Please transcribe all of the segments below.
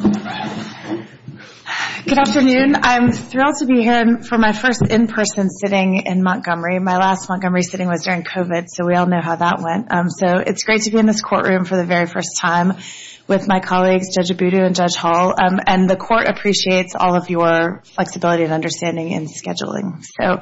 Good afternoon. I'm thrilled to be here for my first in-person sitting in Montgomery. My last Montgomery sitting was during COVID, so we all know how that went. So it's great to be in this courtroom for the very first time with my colleagues, Judge Abudu and Judge Hall. And the court appreciates all of your flexibility and understanding in scheduling. So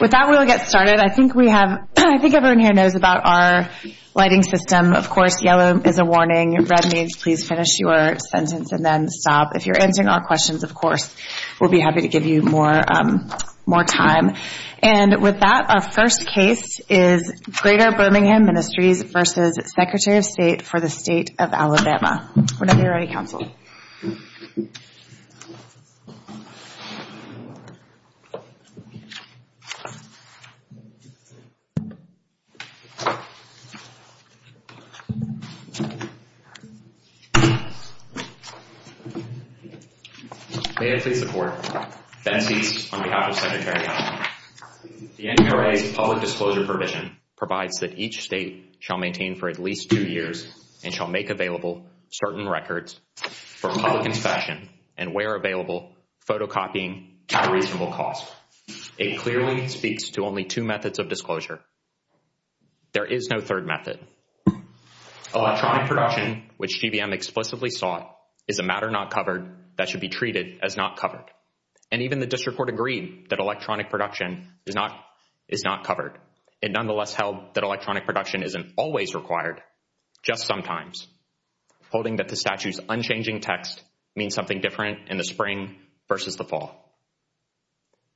with that, we'll get started. I think we have, I think everyone here knows about our lighting system. Of course, yellow is a warning, red means please finish your sentence and then stop. If you're answering our questions, of course, we'll be happy to give you more time. And with that, our first case is Greater Birmingham Ministries v. Secretary of State for the State of Alabama. Whenever you're ready, counsel. May I please support? Then cease on behalf of Secretary Allen. The NRA's public disclosure provision provides that each state shall maintain for at least two years and shall make available certain records for public inspection and, where available, photocopying at a reasonable cost. It clearly speaks to only two methods of disclosure. There is no third method. Electronic production, which GBM explicitly sought, is a matter not covered that should be treated as not covered. And even the district court agreed that electronic production is not covered. It nonetheless held that electronic production isn't always required, just sometimes, holding that the statute's unchanging text means something different in the spring versus the fall.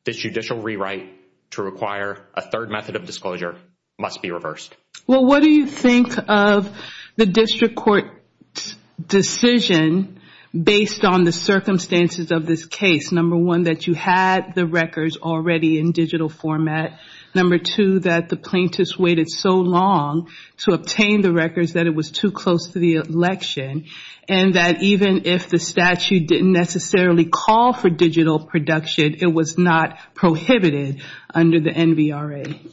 This judicial rewrite to require a third method of disclosure must be reversed. Well, what do you think of the district court's decision based on the circumstances of this case? Number one, that you had the records already in digital format. Number two, that the plaintiffs waited so long to obtain the records that it was too close to the election. And that even if the statute didn't necessarily call for digital production, it was not prohibited under the NVRA.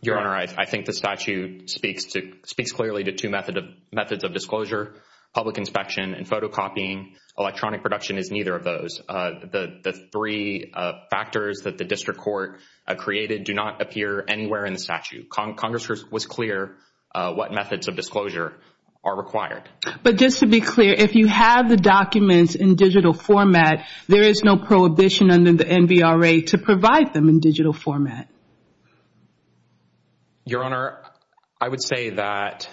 Your Honor, I think the statute speaks clearly to two methods of disclosure, public inspection and photocopying. Electronic production is neither of those. The three factors that the district court created do not appear anywhere in the statute. Congress was clear what methods of disclosure are required. But just to be clear, if you have the documents in digital format, there is no prohibition under the NVRA to provide them in digital format. Your Honor, I would say that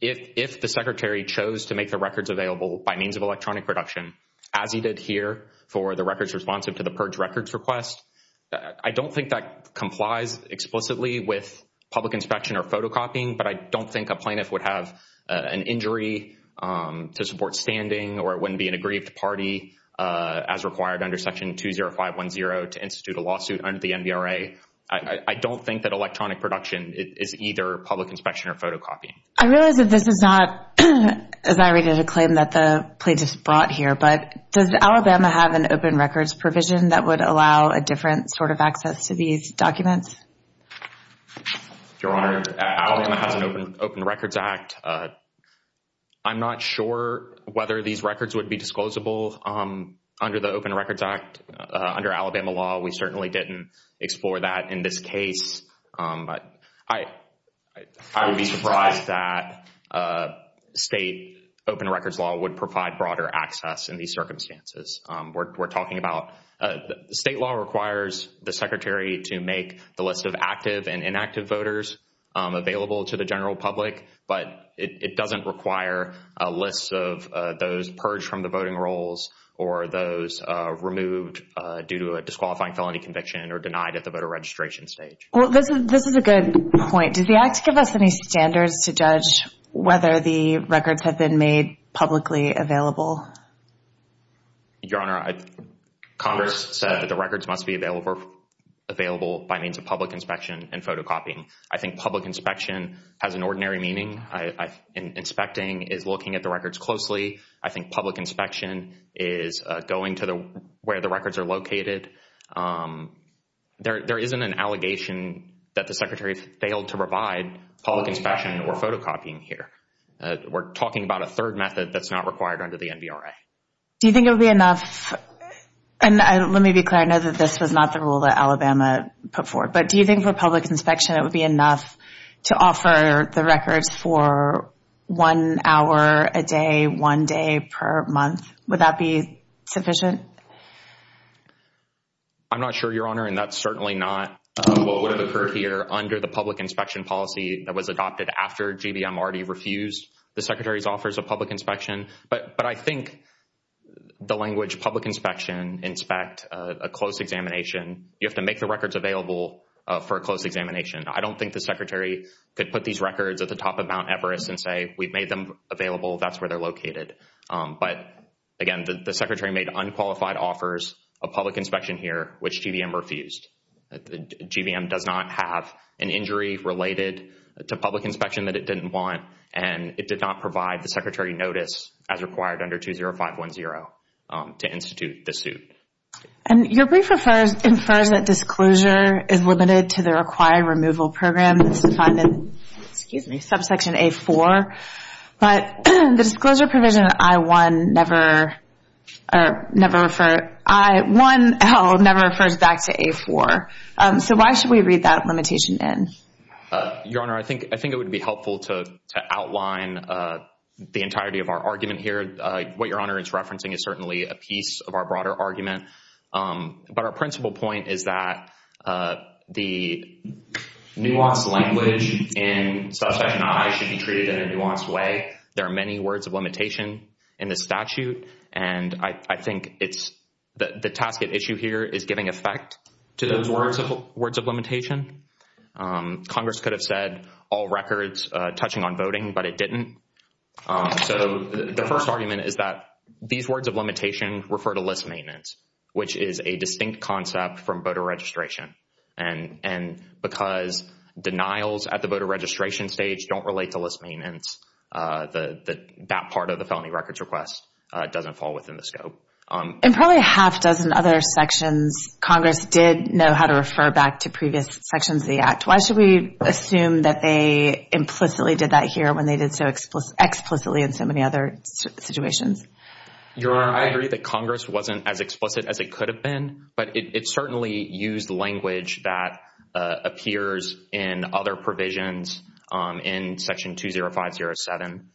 if the Secretary chose to make the records available by means of electronic production, as he did here for the records responsive to the purge records request, I don't think that complies explicitly with public inspection or photocopying, but I don't think a plaintiff would have an injury to support standing or it wouldn't be an aggrieved party as required under Section 20510 to institute a lawsuit under the NVRA. I don't think that electronic production is either public inspection or photocopying. I realize that this is not, as I read it, a claim that the plaintiff brought here, but does Alabama have an open records provision that would allow a different sort of access to these documents? Your Honor, Alabama has an Open Records Act. I'm not sure whether these records would be disclosable under the Open Records Act. Under Alabama law, we certainly didn't explore that in this case. I would be surprised that state open records law would provide broader access in these circumstances. We're talking about state law requires the Secretary to make the list of active and inactive voters available to the general public, but it doesn't require a list of those purged from the voting rolls or those removed due to a disqualifying felony conviction or denied at the voter registration stage. Well, this is a good point. Does the act give us any standards to judge whether the records have been made publicly available? Your Honor, Congress said that the records must be available by means of public inspection and photocopying. I think public inspection has an ordinary meaning. Inspecting is looking at the records closely. I think public inspection is going to where the records are located. There isn't an allegation that the Secretary failed to provide public inspection or photocopying here. We're talking about a third method that's not required under the NBRA. Do you think it would be enough, and let me be clear, I know that this was not the rule that Alabama put forth, but do you think for public inspection it would be enough to offer the records for one hour a day, one day per month? Would that be sufficient? I'm not sure, Your Honor, and that's certainly not what would have occurred here under the public inspection policy that was adopted after GBM already refused the Secretary's offers of public inspection. But I think the language public inspection, inspect, a close examination, you have to make the records available for a close examination. I don't think the Secretary could put these records at the top of Mount Everest and say, we've made them available, that's where they're located. But, again, the Secretary made unqualified offers of public inspection here, which GBM refused. GBM does not have an injury related to public inspection that it didn't want, and it did not provide the Secretary notice as required under 20510 to institute the suit. And your brief infers that disclosure is limited to the required removal program, excuse me, subsection A-4, but the disclosure provision in I-1 never refers back to A-4. So why should we read that limitation in? Your Honor, I think it would be helpful to outline the entirety of our argument here. What Your Honor is referencing is certainly a piece of our broader argument, but our principal point is that the nuanced language in subsection I should be treated in a nuanced way. There are many words of limitation in the statute, and I think the task at issue here is giving effect to those words of limitation. Congress could have said all records touching on voting, but it didn't. So the first argument is that these words of limitation refer to list maintenance, which is a distinct concept from voter registration. And because denials at the voter registration stage don't relate to list maintenance, that part of the felony records request doesn't fall within the scope. In probably a half dozen other sections, Congress did know how to refer back to previous sections of the Act. Why should we assume that they implicitly did that here when they did so explicitly in so many other situations? Your Honor, I agree that Congress wasn't as explicit as it could have been, but it certainly used language that appears in other provisions in section 20507.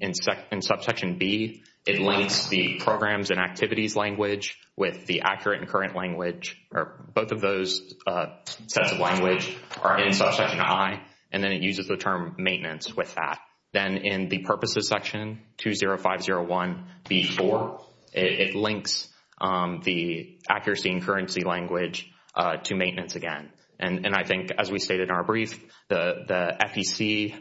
In subsection B, it links the programs and activities language with the accurate and current language, or both of those sets of language are in subsection I, and then it uses the term maintenance with that. Then in the purposes section, 20501B4, it links the accuracy and currency language to maintenance again. And I think, as we stated in our brief, the FEC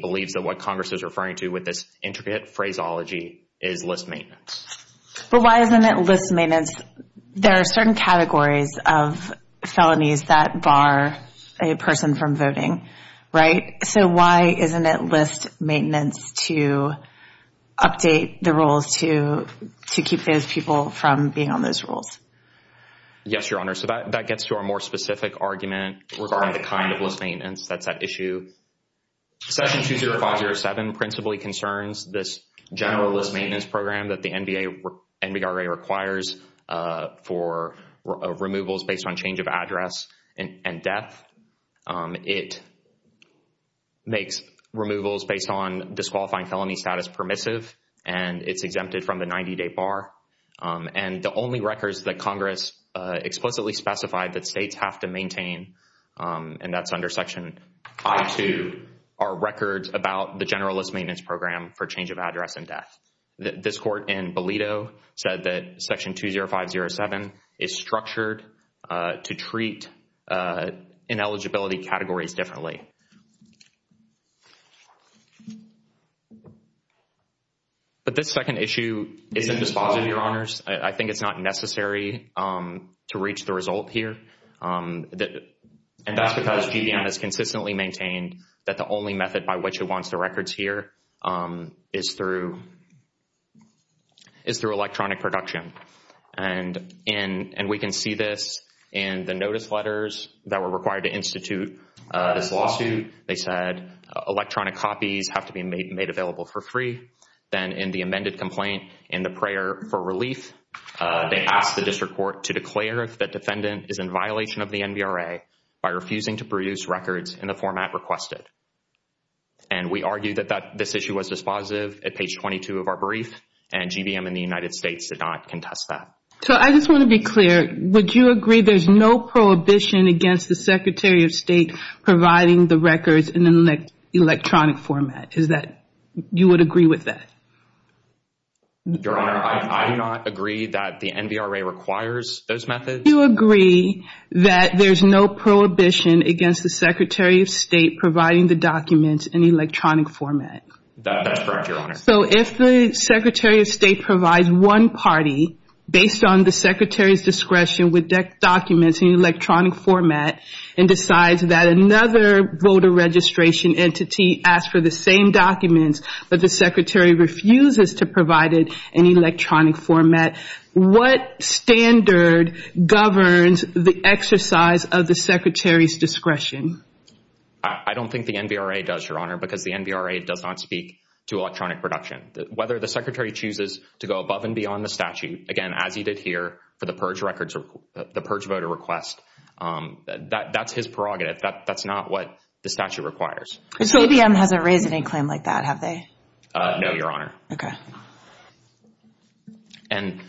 believes that what Congress is referring to with this intricate phraseology is list maintenance. But why isn't it list maintenance? There are certain categories of felonies that bar a person from voting, right? So why isn't it list maintenance to update the rules to keep those people from being on those rules? Yes, Your Honor. So that gets to our more specific argument regarding the kind of list maintenance that's at issue. Section 20507 principally concerns this general list maintenance program that the NBRA requires for removals based on change of address and death. It makes removals based on disqualifying felony status permissive, and it's exempted from the 90-day bar. And the only records that Congress explicitly specified that states have to maintain, and that's under section I.2, are records about the general list maintenance program for change of address and death. This court in Bolido said that section 20507 is structured to treat ineligibility categories differently. But this second issue isn't dispositive, Your Honors. I think it's not necessary to reach the result here. And that's because GBM has consistently maintained that the only method by which it wants the records here is through electronic production. And we can see this in the notice letters that were required to institute this lawsuit. They said electronic copies have to be made available for free. Then in the amended complaint, in the prayer for relief, they asked the district court to declare that defendant is in violation of the NBRA by refusing to produce records in the format requested. And we argue that this issue was dispositive at page 22 of our brief, and GBM and the United States did not contest that. So I just want to be clear. Would you agree there's no prohibition against the Secretary of State providing the records in an electronic format? Is that, you would agree with that? Your Honor, I do not agree that the NBRA requires those methods. Would you agree that there's no prohibition against the Secretary of State providing the documents in electronic format? That's correct, Your Honor. So if the Secretary of State provides one party based on the Secretary's discretion with documents in electronic format and decides that another voter registration entity asked for the same documents, but the Secretary refuses to provide it in electronic format, what standard governs the exercise of the Secretary's discretion? I don't think the NBRA does, Your Honor, because the NBRA does not speak to electronic production. Whether the Secretary chooses to go above and beyond the statute, again, as he did here for the purge voter request, that's his prerogative. That's not what the statute requires. So GBM hasn't raised any claim like that, have they? No, Your Honor. Okay. And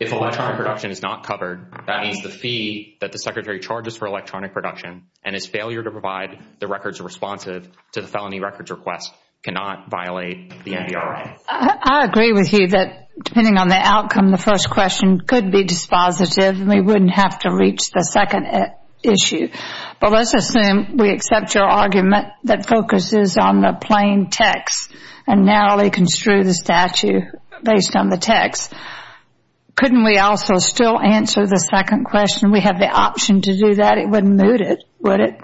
if electronic production is not covered, that means the fee that the Secretary charges for electronic production and his failure to provide the records responsive to the felony records request cannot violate the NBRA. I agree with you that depending on the outcome, the first question could be dispositive and we wouldn't have to reach the second issue. Well, let's assume we accept your argument that focuses on the plain text and narrowly construe the statute based on the text. Couldn't we also still answer the second question? We have the option to do that. It wouldn't moot it, would it?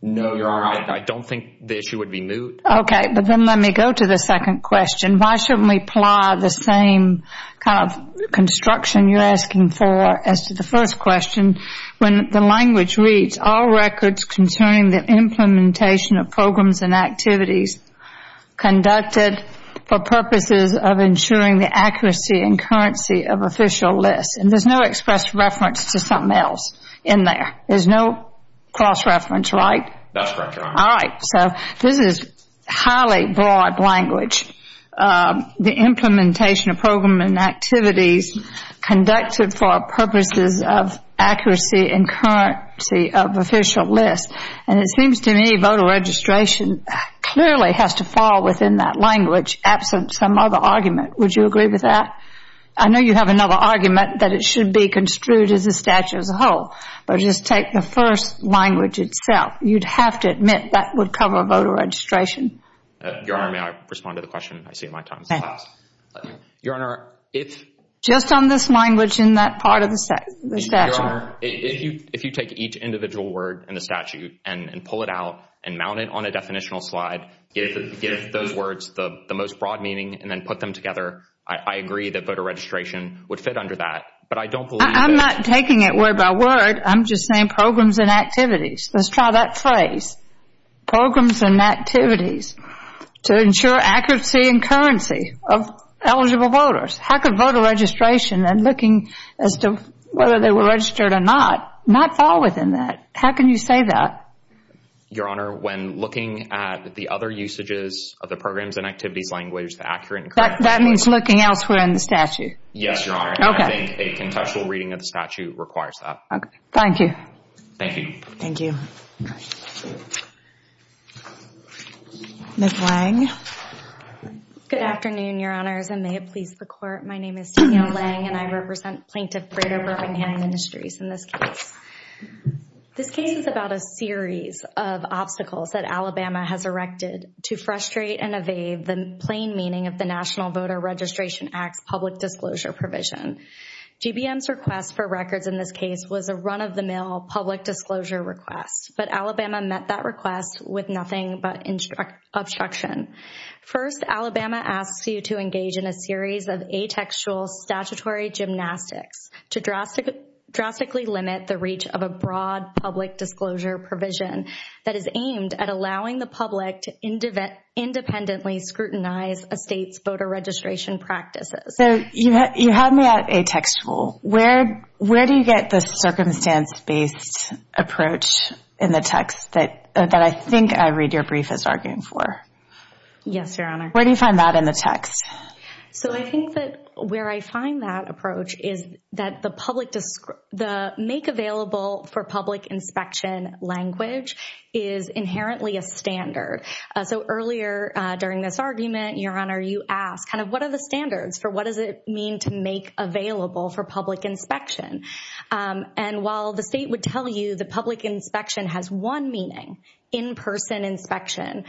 No, Your Honor. I don't think the issue would be moot. Okay. But then let me go to the second question. Why shouldn't we apply the same kind of construction you're asking for as to the first question when the language reads, all records concerning the implementation of programs and activities conducted for purposes of ensuring the accuracy and currency of official lists? And there's no express reference to something else in there. There's no cross-reference, right? That's correct, Your Honor. All right. So this is highly broad language. The implementation of program and activities conducted for purposes of accuracy and currency of official lists. And it seems to me voter registration clearly has to fall within that language absent some other argument. Would you agree with that? I know you have another argument that it should be construed as a statute as a whole, but just take the first language itself. You'd have to admit that would cover voter registration. Your Honor, may I respond to the question? I see my time has passed. Your Honor, if Just on this language in that part of the statute. Your Honor, if you take each individual word in the statute and pull it out and mount it on a definitional slide, give those words the most broad meaning, and then put them together, I agree that voter registration would fit under that. But I don't believe that I'm not taking it word by word. I'm just saying programs and activities. Let's try that phrase. Programs and activities to ensure accuracy and currency of eligible voters. How could voter registration and looking as to whether they were registered or not, not fall within that. How can you say that? Your Honor, when looking at the other usages of the programs and activities language, the accurate and correct language That means looking elsewhere in the statute. Yes, Your Honor. I think a contextual reading of the statute requires that. Thank you. Thank you. Thank you. Ms. Lange. Good afternoon, Your Honors, and may it please the Court. My name is Danielle Lange, and I represent Plaintiff Freda Birmingham Industries in this case. This case is about a series of obstacles that Alabama has erected to frustrate and evade the plain meaning of the National Voter Registration Act's public disclosure provision. GBM's request for records in this case was a run-of-the-mill public disclosure request, but Alabama met that request with nothing but obstruction. First, Alabama asks you to engage in a series of atextual statutory gymnastics to drastically limit the reach of a broad public disclosure provision that is aimed at allowing the public to independently scrutinize a state's voter registration practices. So you had me at atextual. Where do you get the circumstance-based approach in the text that I think I read your brief as arguing for? Yes, Your Honor. Where do you find that in the text? So I think that where I find that approach is that the make-available-for-public-inspection language is inherently a standard. So earlier during this argument, Your Honor, you asked, kind of, what are the standards for what does it mean to make available for public inspection? And while the state would tell you the public inspection has one meaning, in-person inspection,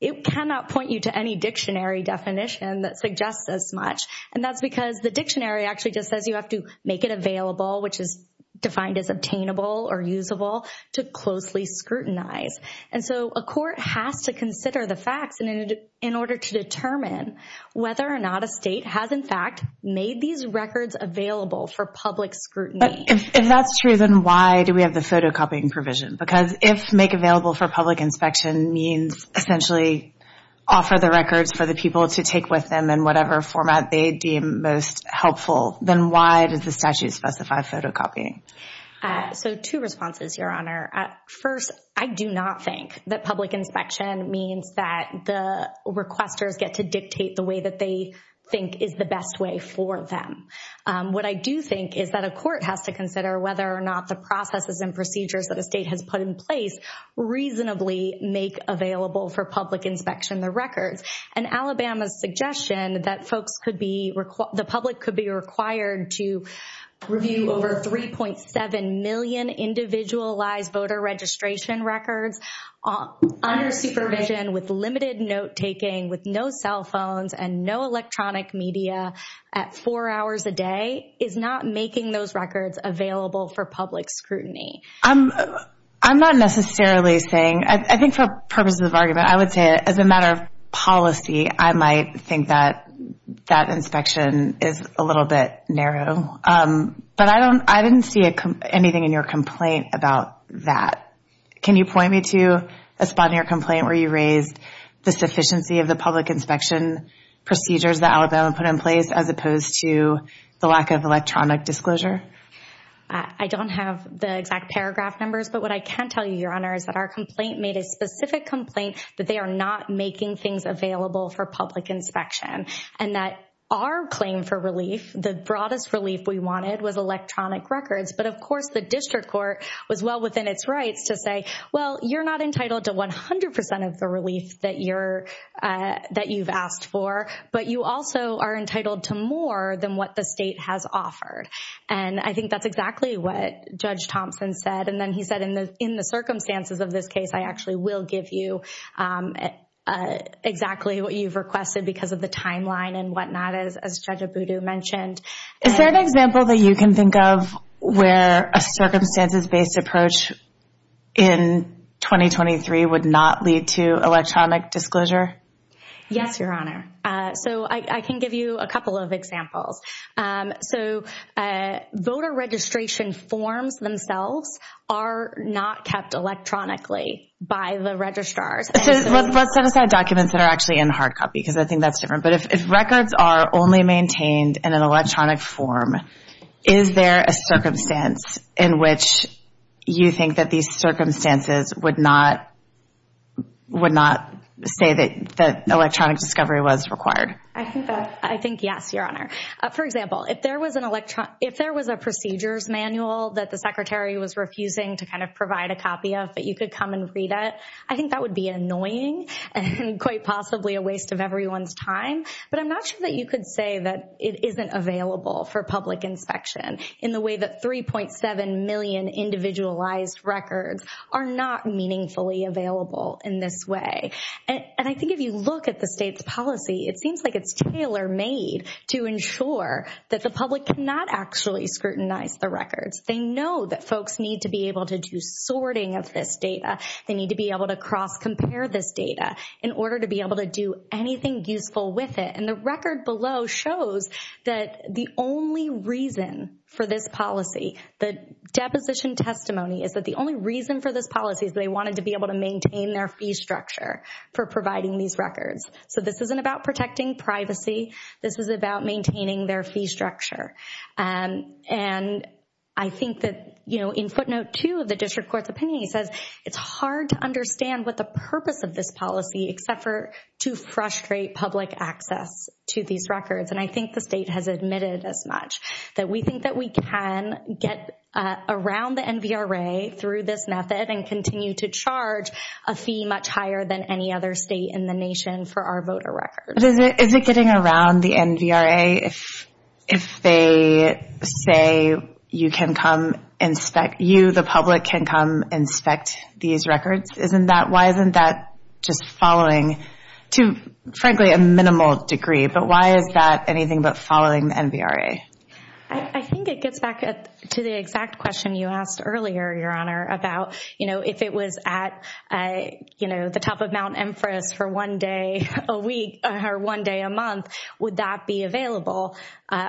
it cannot point you to any dictionary definition that suggests as much. And that's because the dictionary actually just says you have to make it available, which is defined as obtainable or usable, to closely scrutinize. And so a court has to consider the facts in order to determine whether or not a state has, in fact, made these records available for public scrutiny. If that's true, then why do we have the photocopying provision? Because if make-available-for-public-inspection means essentially offer the records for the people to take with them in whatever format they deem most helpful, then why does the statute specify photocopying? So two responses, Your Honor. First, I do not think that public inspection means that the requesters get to dictate the way that they think is the best way for them. What I do think is that a court has to consider whether or not the processes and procedures that a state has put in place reasonably make available for public inspection the records. And Alabama's suggestion that the public could be required to review over 3.7 million individualized voter registration records under supervision with limited note-taking, with no cell phones, and no electronic media at four hours a day is not making those records available for public scrutiny. I'm not necessarily saying – I think for purposes of argument, I would say as a matter of policy, I might think that that inspection is a little bit narrow. But I didn't see anything in your complaint about that. Can you point me to a spot in your complaint where you raised the sufficiency of the public inspection procedures that Alabama put in place as opposed to the lack of electronic disclosure? I don't have the exact paragraph numbers, but what I can tell you, Your Honor, is that our complaint made a specific complaint that they are not making things available for public inspection and that our claim for relief, the broadest relief we wanted, was electronic records. But of course, the district court was well within its rights to say, well, you're not entitled to 100 percent of the relief that you've asked for, but you also are entitled to more than what the state has offered. And I think that's exactly what Judge Thompson said. And then he said, in the circumstances of this case, I actually will give you exactly what you've requested because of the timeline and whatnot, as Judge Abudu mentioned. Is there an example that you can think of where a circumstances-based approach in 2023 would not lead to electronic disclosure? Yes, Your Honor. So I can give you a couple of examples. So voter registration forms themselves are not kept electronically by the registrars. So let's set aside documents that are actually in hard copy because I think that's different. But if records are only maintained in an electronic form, is there a circumstance in which you think that these circumstances would not say that electronic discovery was required? I think yes, Your Honor. For example, if there was a procedures manual that the Secretary was refusing to kind of provide a copy of that you could come and read it, I think that would be annoying and quite possibly a waste of everyone's time. But I'm not sure that you could say that it isn't available for public inspection in the way that 3.7 million individualized records are not meaningfully available in this way. And I think if you look at the state's policy, it seems like it's tailor-made to ensure that the public cannot actually scrutinize the records. They know that folks need to be able to do sorting of this data. They need to be able to cross-compare this data in order to be able to do anything useful with it. And the record below shows that the only reason for this policy, the deposition testimony is that the only reason for this policy is they wanted to be able to maintain their fee structure for providing these records. So this isn't about protecting privacy. This is about maintaining their fee structure. And I think that, you know, in footnote two of the district court's opinion, it says it's hard to understand what the purpose of this policy, except for to frustrate public access to these records. And I think the state has admitted as much, that we think that we can get around the NVRA through this method and continue to charge a fee much higher than any other state in the nation for our voter records. But is it getting around the NVRA if they say you can come inspect, you, the public, can come inspect these records? Isn't that, why isn't that just following to, frankly, a minimal degree? But why is that anything but following the NVRA? I think it gets back to the exact question you asked earlier, Your Honor, about, you know, if it was at, you know, the top of Mount Empress for one day a week or one day a month, would that be available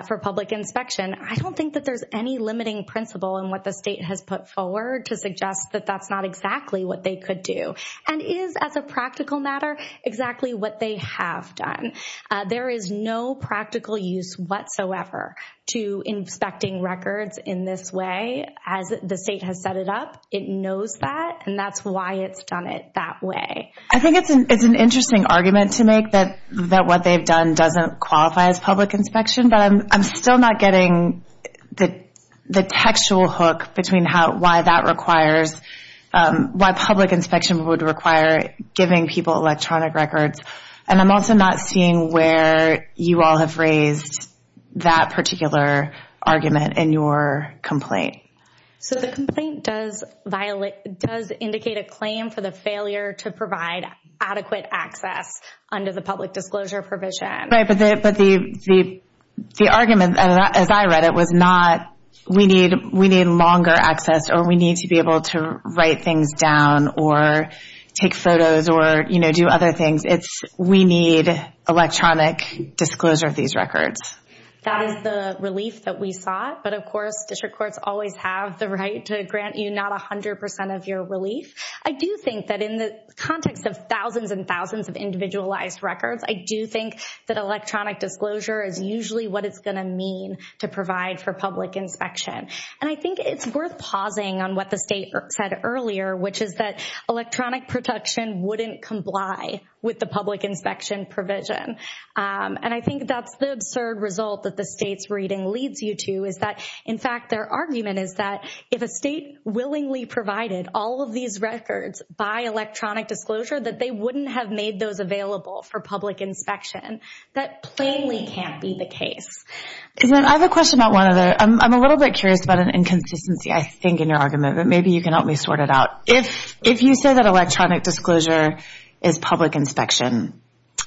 for public inspection? I don't think that there's any limiting principle in what the state has put forward to suggest that that's not exactly what they could do. And is, as a practical matter, exactly what they have done. There is no practical use whatsoever to inspecting records in this way. As the state has set it up, it knows that, and that's why it's done it that way. I think it's an interesting argument to make that what they've done doesn't qualify as public inspection. But I'm still not getting the textual hook between why that requires, why public inspection would require giving people electronic records. And I'm also not seeing where you all have raised that particular argument in your complaint. So the complaint does indicate a claim for the failure to provide adequate access under the public disclosure provision. Right, but the argument, as I read it, was not we need longer access or we need to be able to write things down or take photos or, you know, do other things. It's we need electronic disclosure of these records. That is the relief that we sought. But, of course, district courts always have the right to grant you not 100% of your relief. I do think that in the context of thousands and thousands of individualized records, I do think that electronic disclosure is usually what it's going to mean to provide for public inspection. And I think it's worth pausing on what the state said earlier, which is that electronic protection wouldn't comply with the public inspection provision. And I think that's the absurd result that the state's reading leads you to is that, in fact, their argument is that if a state willingly provided all of these records by electronic disclosure, that they wouldn't have made those available for public inspection. That plainly can't be the case. I have a question about one other. I'm a little bit curious about an inconsistency, I think, in your argument. But maybe you can help me sort it out. If you say that electronic disclosure is public inspection,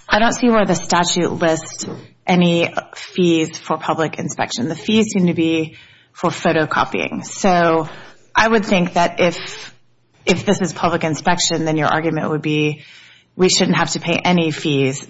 I don't see where the statute lists any fees for public inspection. The fees seem to be for photocopying. So I would think that if this is public inspection, then your argument would be we shouldn't have to pay any fees.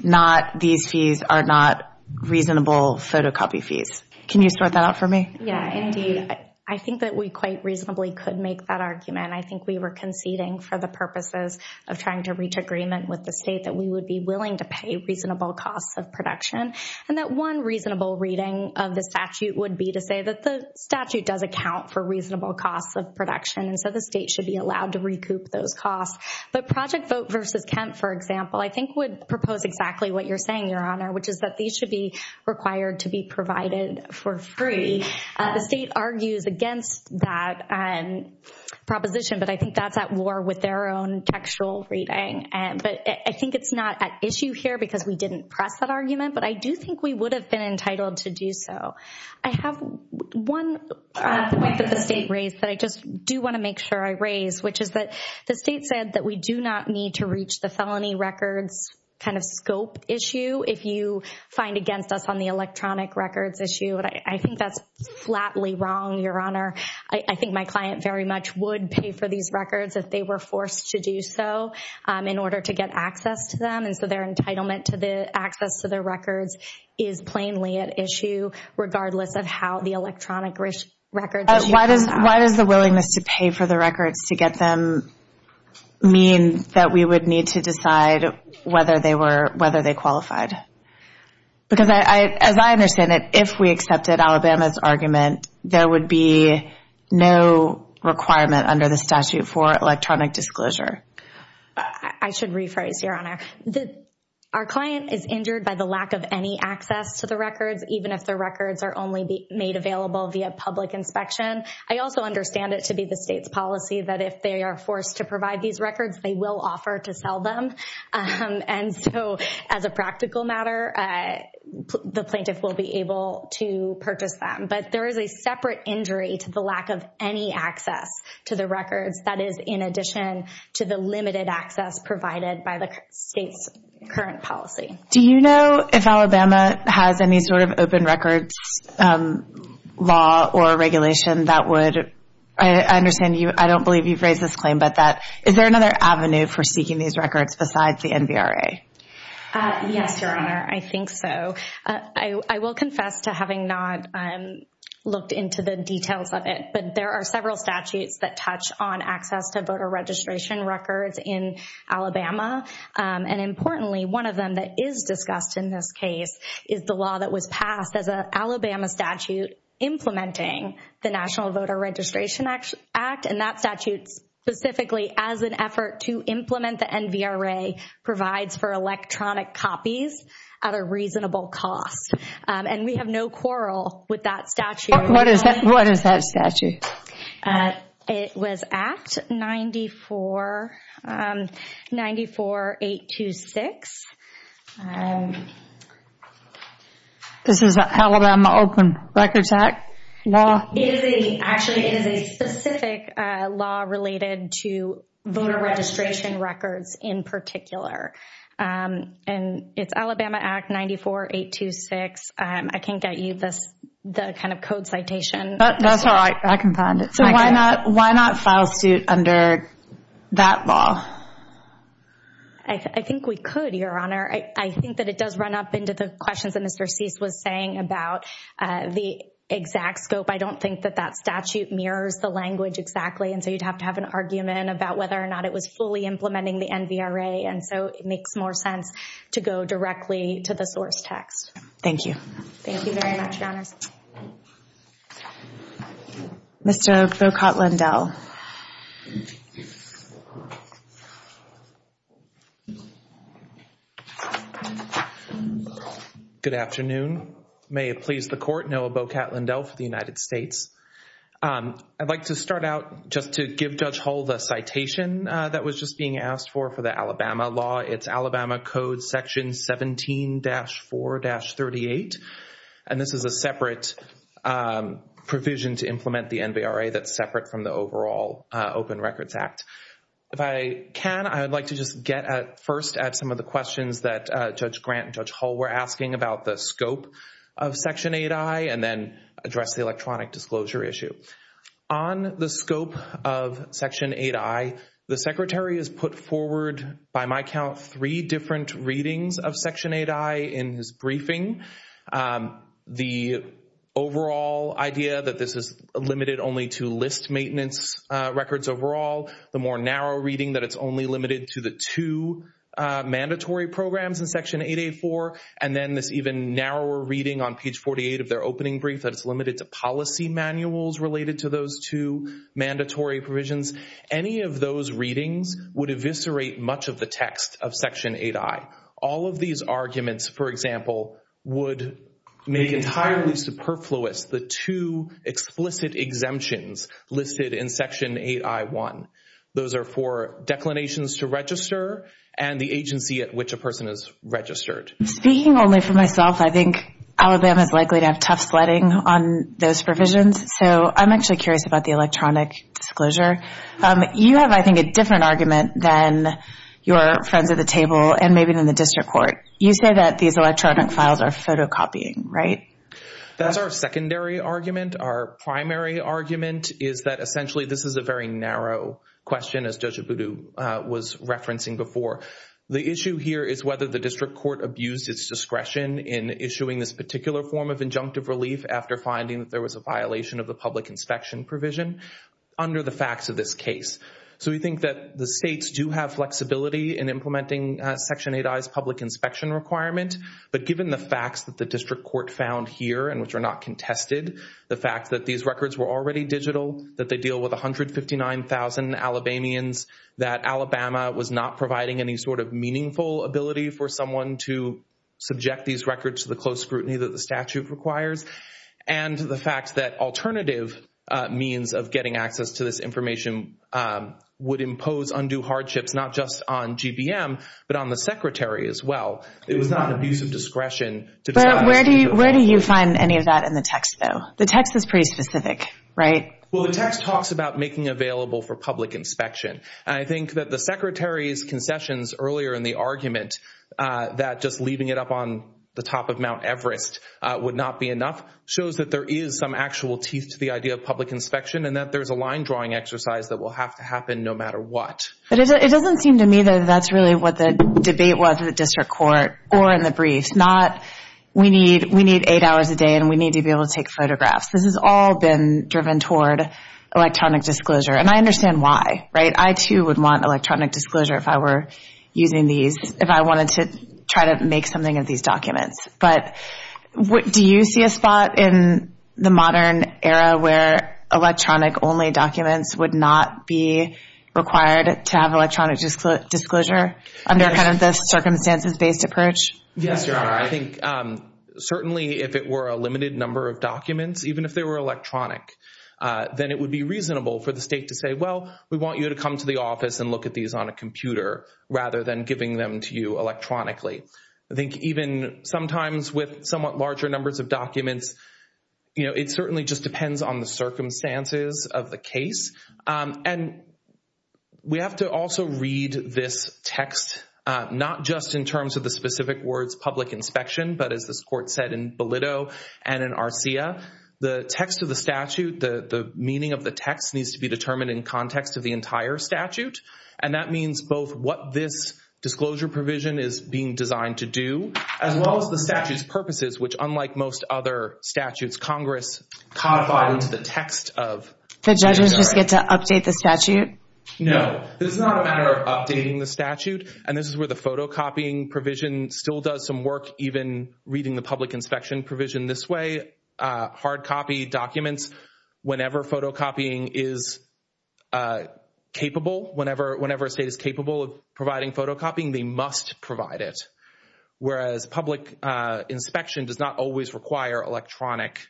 These fees are not reasonable photocopy fees. Can you sort that out for me? Yeah, indeed. I think that we quite reasonably could make that argument. I think we were conceding for the purposes of trying to reach agreement with the state that we would be willing to pay reasonable costs of production. And that one reasonable reading of the statute would be to say that the statute does account for reasonable costs of production, and so the state should be allowed to recoup those costs. But Project Vote v. Kemp, for example, I think would propose exactly what you're saying, Your Honor, which is that these should be required to be provided for free. The state argues against that proposition, but I think that's at war with their own textual reading. But I think it's not at issue here because we didn't press that argument, but I do think we would have been entitled to do so. I have one point that the state raised that I just do want to make sure I raise, which is that the state said that we do not need to reach the felony records kind of scope issue if you find against us on the electronic records issue. I think that's flatly wrong, Your Honor. I think my client very much would pay for these records if they were forced to do so in order to get access to them, and so their entitlement to the access to the records is plainly at issue regardless of how the electronic records issue is. Why does the willingness to pay for the records to get them mean that we would need to decide whether they qualified? Because as I understand it, if we accepted Alabama's argument, there would be no requirement under the statute for electronic disclosure. I should rephrase, Your Honor. Our client is injured by the lack of any access to the records, even if the records are only made available via public inspection. I also understand it to be the state's policy that if they are forced to provide these records, they will offer to sell them, and so as a practical matter, the plaintiff will be able to purchase them. But there is a separate injury to the lack of any access to the records that is in addition to the limited access provided by the state's current policy. Do you know if Alabama has any sort of open records law or regulation that would, I understand you, I don't believe you've raised this claim, but is there another avenue for seeking these records besides the NVRA? Yes, Your Honor, I think so. I will confess to having not looked into the details of it, but there are several statutes that touch on access to voter registration records in Alabama, and importantly, one of them that is discussed in this case is the law that was passed as an Alabama statute implementing the National Voter Registration Act, and that statute specifically as an effort to implement the NVRA provides for electronic copies at a reasonable cost. And we have no quarrel with that statute. What is that statute? It was Act 94-826. This is an Alabama Open Records Act law? Actually, it is a specific law related to voter registration records in particular. And it's Alabama Act 94-826. I can't get you the kind of code citation. That's all right. I can find it. So why not file suit under that law? I think we could, Your Honor. I think that it does run up into the questions that Mr. Cease was saying about the exact scope. I don't think that that statute mirrors the language exactly, and so you'd have to have an argument about whether or not it was fully implementing the NVRA, and so it makes more sense to go directly to the source text. Thank you. Thank you very much, Your Honor. Mr. Bocat-Lindell. Good afternoon. May it please the Court, Noah Bocat-Lindell for the United States. I'd like to start out just to give Judge Hull the citation that was just being asked for for the Alabama law. It's Alabama Code Section 17-4-38, and this is a separate provision to implement the NVRA that's separate from the overall Open Records Act. If I can, I would like to just get first at some of the questions that Judge Grant and Judge Hull were asking about the scope of Section 8i and then address the electronic disclosure issue. On the scope of Section 8i, the Secretary has put forward, by my count, three different readings of Section 8i in his briefing. The overall idea that this is limited only to list maintenance records overall, the more narrow reading that it's only limited to the two mandatory programs in Section 8a-4, and then this even narrower reading on page 48 of their opening brief that it's limited to policy manuals related to those two mandatory provisions, any of those readings would eviscerate much of the text of Section 8i. All of these arguments, for example, would make entirely superfluous the two explicit exemptions listed in Section 8i-1. Those are for declinations to register and the agency at which a person is registered. Speaking only for myself, I think Alabama is likely to have tough sledding on those provisions, so I'm actually curious about the electronic disclosure. You have, I think, a different argument than your friends at the table and maybe in the district court. You say that these electronic files are photocopying, right? That's our secondary argument. Our primary argument is that essentially this is a very narrow question, as Judge Abudu was referencing before. The issue here is whether the district court abused its discretion in issuing this particular form of injunctive relief after finding that there was a violation of the public inspection provision under the facts of this case. So we think that the states do have flexibility in implementing Section 8i's public inspection requirement, but given the facts that the district court found here and which are not contested, the fact that these records were already digital, that they deal with 159,000 Alabamians, that Alabama was not providing any sort of meaningful ability for someone to subject these records to the close scrutiny that the statute requires, and the fact that alternative means of getting access to this information would impose undue hardships not just on GBM but on the Secretary as well. It was not an abuse of discretion to tell us to do that. Where do you find any of that in the text, though? The text is pretty specific, right? Well, the text talks about making available for public inspection, and I think that the Secretary's concessions earlier in the argument that just leaving it up on the top of Mount Everest would not be enough shows that there is some actual teeth to the idea of public inspection and that there's a line-drawing exercise that will have to happen no matter what. But it doesn't seem to me that that's really what the debate was in the district court or in the brief, not we need eight hours a day and we need to be able to take photographs. This has all been driven toward electronic disclosure, and I understand why, right? I too would want electronic disclosure if I were using these, if I wanted to try to make something of these documents. But do you see a spot in the modern era where electronic-only documents would not be required to have electronic disclosure under kind of the circumstances-based approach? Yes, Your Honor. I think certainly if it were a limited number of documents, even if they were electronic, then it would be reasonable for the state to say, well, we want you to come to the office and look at these on a computer rather than giving them to you electronically. I think even sometimes with somewhat larger numbers of documents, it certainly just depends on the circumstances of the case. And we have to also read this text, not just in terms of the specific words public inspection, but as this court said in Bellitto and in Arcia, the text of the statute, the meaning of the text needs to be determined in context of the entire statute, and that means both what this disclosure provision is being designed to do as well as the statute's purposes, which unlike most other statutes, Congress codified into the text of the statute. So judges just get to update the statute? No. This is not a matter of updating the statute, and this is where the photocopying provision still does some work, even reading the public inspection provision this way. Hard copy documents, whenever photocopying is capable, whenever a state is capable of providing photocopying, they must provide it, whereas public inspection does not always require electronic-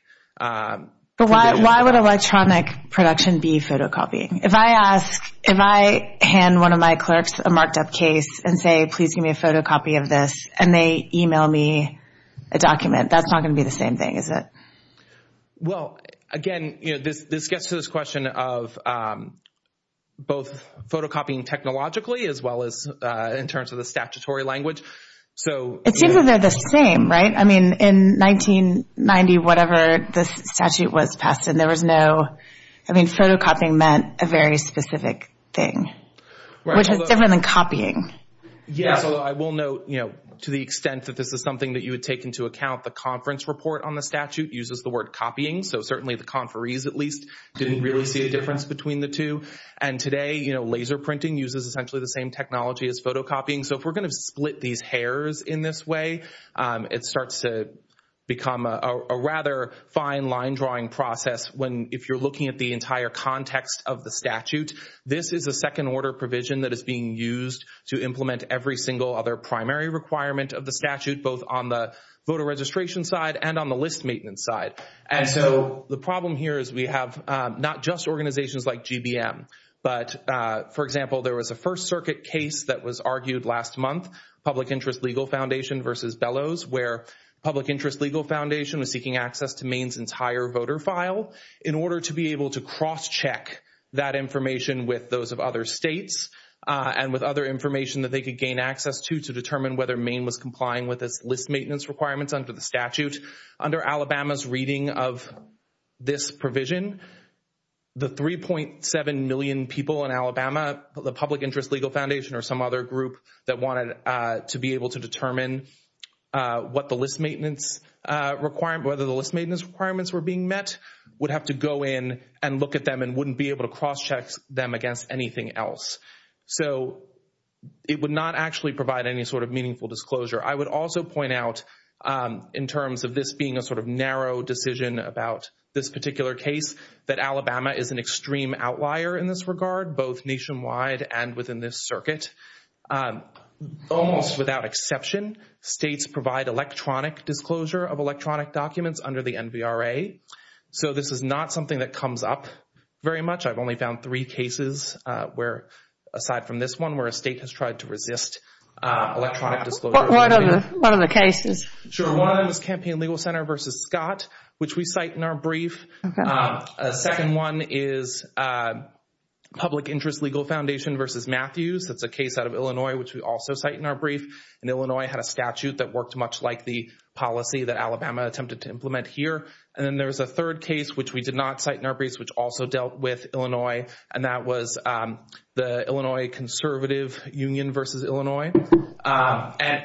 But why would electronic production be photocopying? If I hand one of my clerks a marked-up case and say, please give me a photocopy of this, and they email me a document, that's not going to be the same thing, is it? Well, again, this gets to this question of both photocopying technologically as well as in terms of the statutory language. It seems that they're the same, right? I mean, in 1990, whatever this statute was passed in, there was no- I mean, photocopying meant a very specific thing, which is different than copying. Yes, although I will note, to the extent that this is something that you would take into account, the conference report on the statute uses the word copying, so certainly the conferees, at least, didn't really see a difference between the two. And today, laser printing uses essentially the same technology as photocopying. So if we're going to split these hairs in this way, it starts to become a rather fine line-drawing process if you're looking at the entire context of the statute. This is a second-order provision that is being used to implement every single other primary requirement of the statute, both on the voter registration side and on the list maintenance side. And so the problem here is we have not just organizations like GBM, but, for example, there was a First Circuit case that was argued last month, Public Interest Legal Foundation versus Bellows, where Public Interest Legal Foundation was seeking access to Maine's entire voter file in order to be able to cross-check that information with those of other states and with other information that they could gain access to to determine whether Maine was complying with its list maintenance requirements under the statute. Under Alabama's reading of this provision, the 3.7 million people in Alabama, the Public Interest Legal Foundation or some other group that wanted to be able to determine whether the list maintenance requirements were being met, would have to go in and look at them and wouldn't be able to cross-check them against anything else. So it would not actually provide any sort of meaningful disclosure. I would also point out, in terms of this being a sort of narrow decision about this particular case, that Alabama is an extreme outlier in this regard, both nationwide and within this circuit. Almost without exception, states provide electronic disclosure of electronic documents under the NVRA. So this is not something that comes up very much. I've only found three cases, aside from this one, where a state has tried to resist electronic disclosure. What are the cases? One is Campaign Legal Center versus Scott, which we cite in our brief. A second one is Public Interest Legal Foundation versus Matthews. That's a case out of Illinois, which we also cite in our brief. And Illinois had a statute that worked much like the policy that Alabama attempted to implement here. And then there was a third case, which we did not cite in our brief, which also dealt with Illinois, and that was the Illinois Conservative Union versus Illinois.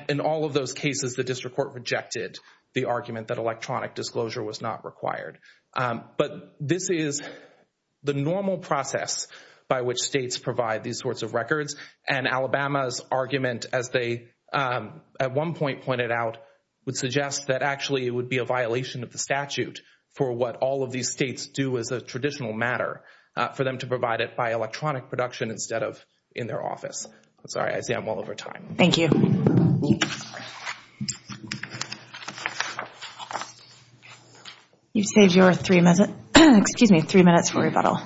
In all of those cases, the district court rejected the argument that electronic disclosure was not required. But this is the normal process by which states provide these sorts of records, and Alabama's argument, as they at one point pointed out, would suggest that actually it would be a violation of the statute for what all of these states do as a traditional matter, for them to provide it by electronic production instead of in their office. I'm sorry. I see I'm well over time. Thank you. You've saved your three minutes for rebuttal.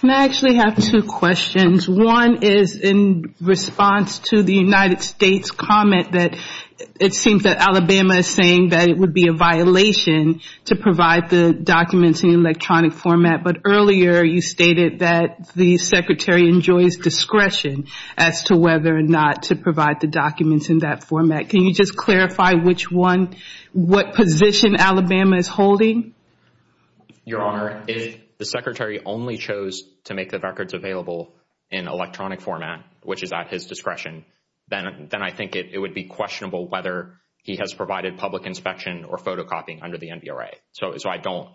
I actually have two questions. One is in response to the United States' comment that it seems that Alabama is saying that it would be a violation to provide the documents in electronic format. But earlier you stated that the Secretary enjoys discretion as to whether or not to provide the documents in that format. Can you just clarify what position Alabama is holding? Your Honor, if the Secretary only chose to make the records available in electronic format, which is at his discretion, then I think it would be questionable whether he has provided public inspection or photocopying under the NVRA. So I don't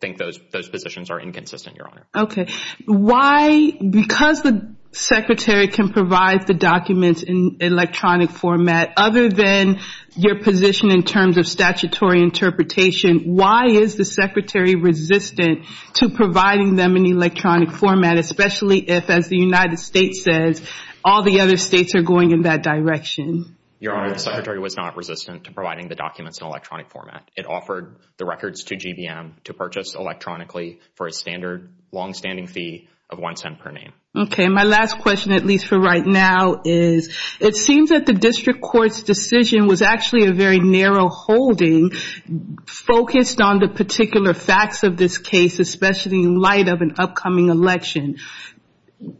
think those positions are inconsistent, Your Honor. Okay. Why? Because the Secretary can provide the documents in electronic format, other than your position in terms of statutory interpretation, why is the Secretary resistant to providing them in electronic format, especially if, as the United States says, all the other states are going in that direction? Your Honor, the Secretary was not resistant to providing the documents in electronic format. It offered the records to GBM to purchase electronically for a standard longstanding fee of one cent per name. Okay. My last question, at least for right now, is it seems that the District Court's decision was actually a very narrow holding focused on the particular facts of this case, especially in light of an upcoming election.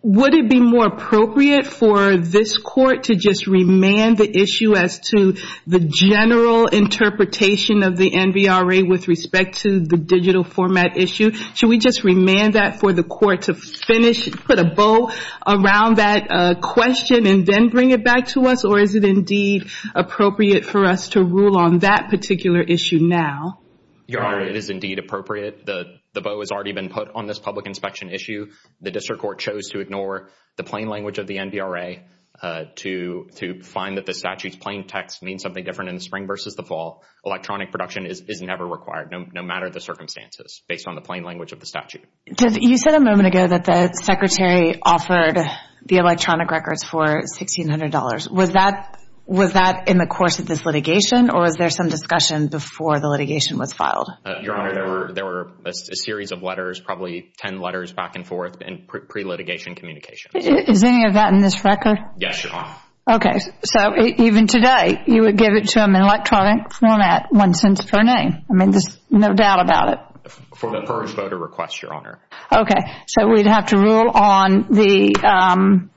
Would it be more appropriate for this Court to just remand the issue as to the general interpretation of the NVRA with respect to the digital format issue? Should we just remand that for the Court to finish, put a bow around that question and then bring it back to us? Or is it indeed appropriate for us to rule on that particular issue now? Your Honor, it is indeed appropriate. The bow has already been put on this public inspection issue. The District Court chose to ignore the plain language of the NVRA to find that the statute's plain text means something different in the spring versus the fall. Electronic production is never required, no matter the circumstances, based on the plain language of the statute. You said a moment ago that the Secretary offered the electronic records for $1,600. Was that in the course of this litigation, or was there some discussion before the litigation was filed? Your Honor, there were a series of letters, probably ten letters back and forth in pre-litigation communications. Is any of that in this record? Yes, Your Honor. Okay, so even today, you would give it to them in electronic format, one cent per name. I mean, there's no doubt about it. For the first voter request, Your Honor. Okay, so we'd have to rule on the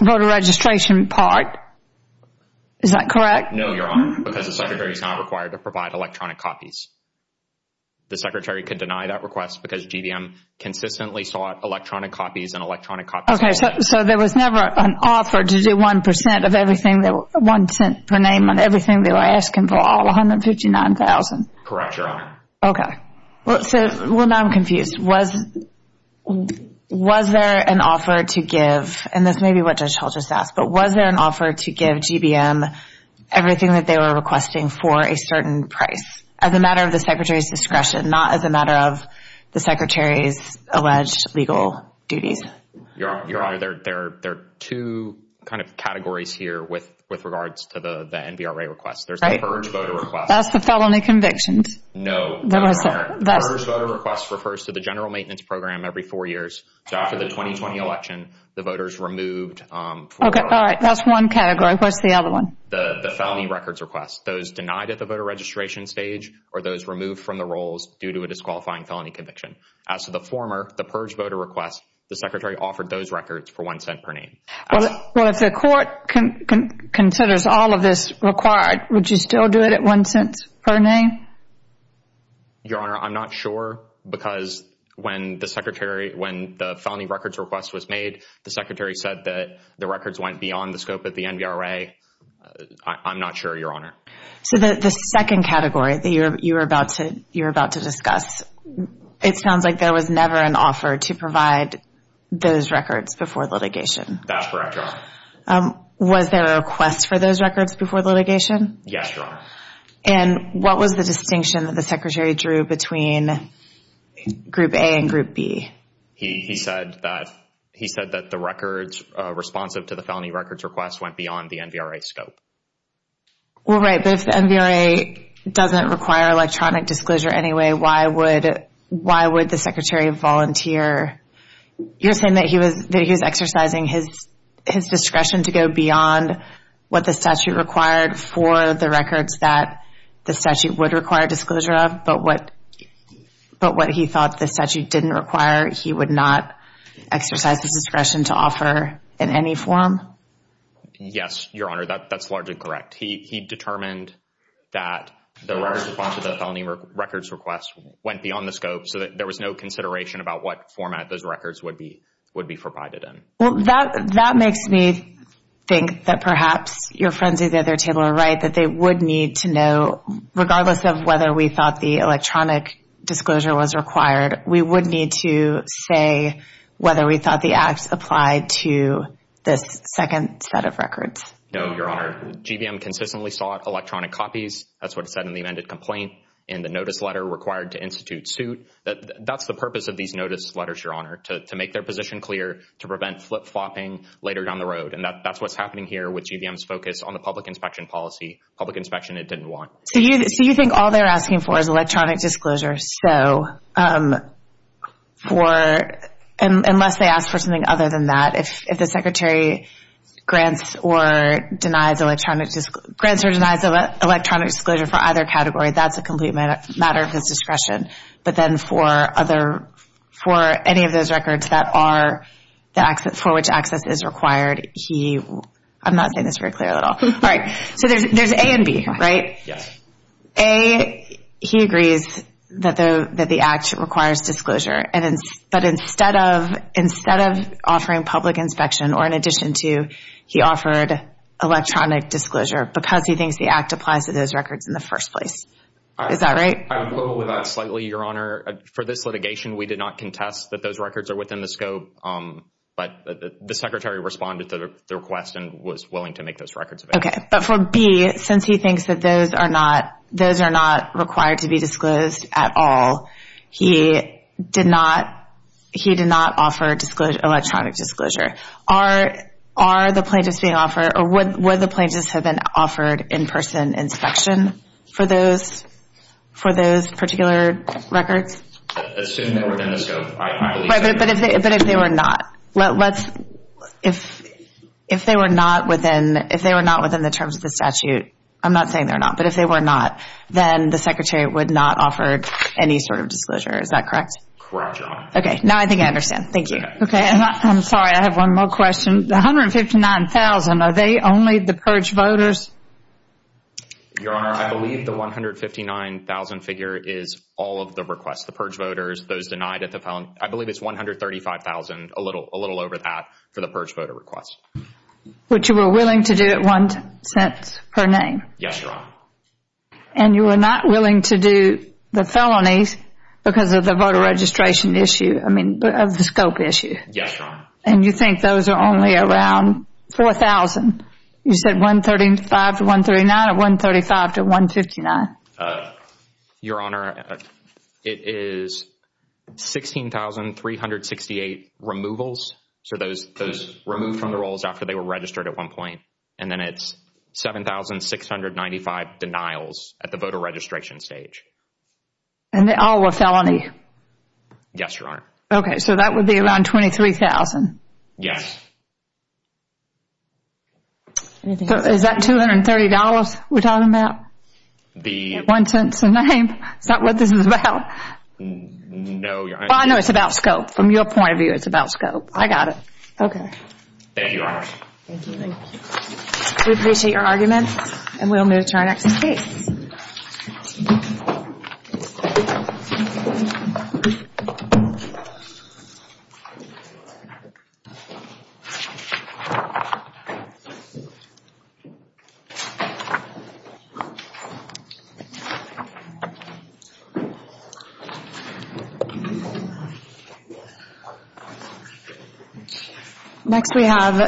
voter registration part. Is that correct? No, Your Honor, because the Secretary is not required to provide electronic copies. The Secretary could deny that request because GDM consistently sought electronic copies Okay, so there was never an offer to do one cent per name on everything they were asking for, all $159,000? Correct, Your Honor. Okay. Well, now I'm confused. Was there an offer to give, and this may be what Judge Hull just asked, but was there an offer to give GDM everything that they were requesting for a certain price as a matter of the Secretary's discretion, and not as a matter of the Secretary's alleged legal duties? Your Honor, there are two kind of categories here with regards to the NBRA request. There's the first voter request. That's the felony convictions. No, Your Honor. The first voter request refers to the general maintenance program every four years. So after the 2020 election, the voters removed Okay, all right. That's one category. What's the other one? The felony records request. Those denied at the voter registration stage or those removed from the rolls due to a disqualifying felony conviction. As to the former, the purge voter request, the Secretary offered those records for one cent per name. Well, if the court considers all of this required, would you still do it at one cent per name? Your Honor, I'm not sure because when the felony records request was made, the Secretary said that the records went beyond the scope of the NBRA. I'm not sure, Your Honor. So the second category that you were about to discuss, it sounds like there was never an offer to provide those records before litigation. That's correct, Your Honor. Was there a request for those records before litigation? Yes, Your Honor. And what was the distinction that the Secretary drew between Group A and Group B? He said that the records responsive to the felony records request went beyond the NBRA scope. Well, right, but if the NBRA doesn't require electronic disclosure anyway, why would the Secretary volunteer? You're saying that he was exercising his discretion to go beyond what the statute required for the records that the statute would require disclosure of, but what he thought the statute didn't require, he would not exercise his discretion to offer in any form? Yes, Your Honor, that's largely correct. He determined that the records responsive to the felony records request went beyond the scope so that there was no consideration about what format those records would be provided in. Well, that makes me think that perhaps your friends at the other table are right, that they would need to know, regardless of whether we thought the electronic disclosure was required, we would need to say whether we thought the acts applied to this second set of records. No, Your Honor. GVM consistently sought electronic copies. That's what it said in the amended complaint in the notice letter required to institute suit. That's the purpose of these notice letters, Your Honor, to make their position clear to prevent flip-flopping later down the road, and that's what's happening here with GVM's focus on the public inspection policy, public inspection it didn't want. So you think all they're asking for is electronic disclosure, so unless they ask for something other than that, if the Secretary grants or denies electronic disclosure for either category, that's a complete matter of his discretion, but then for any of those records for which access is required, I'm not saying this very clearly at all. All right, so there's A and B, right? Yes. A, he agrees that the act requires disclosure, but instead of offering public inspection or in addition to, he offered electronic disclosure because he thinks the act applies to those records in the first place. Is that right? I would go with that slightly, Your Honor. For this litigation, we did not contest that those records are within the scope, but the Secretary responded to the request and was willing to make those records available. Okay, but for B, since he thinks that those are not required to be disclosed at all, he did not offer electronic disclosure. Are the plaintiffs being offered, or would the plaintiffs have been offered in-person inspection for those particular records? Assuming they were within the scope, I believe so. But if they were not, if they were not within the terms of the statute, I'm not saying they're not, but if they were not, then the Secretary would not offer any sort of disclosure. Is that correct? Okay, now I think I understand. Thank you. Okay, I'm sorry, I have one more question. The $159,000, are they only the purge voters? Your Honor, I believe the $159,000 figure is all of the requests, the purge voters, those denied at the felony. I believe it's $135,000, a little over that, for the purge voter requests. Which you were willing to do at one cent per name? Yes, Your Honor. And you were not willing to do the felonies because of the voter registration issue, I mean, of the scope issue? Yes, Your Honor. And you think those are only around $4,000? You said $135,000 to $139,000 or $135,000 to $159,000? Your Honor, it is 16,368 removals, so those removed from the rolls after they were registered at one point. And then it's 7,695 denials at the voter registration stage. And they all were felony? Yes, Your Honor. Okay, so that would be around $23,000? Yes. So is that $230 we're talking about? At one cent per name? Is that what this is about? No, Your Honor. I know it's about scope. From your point of view, it's about scope. I got it. Okay. Thank you, Your Honor. Thank you. We appreciate your argument, and we'll move to our next case. Thank you. Next we have...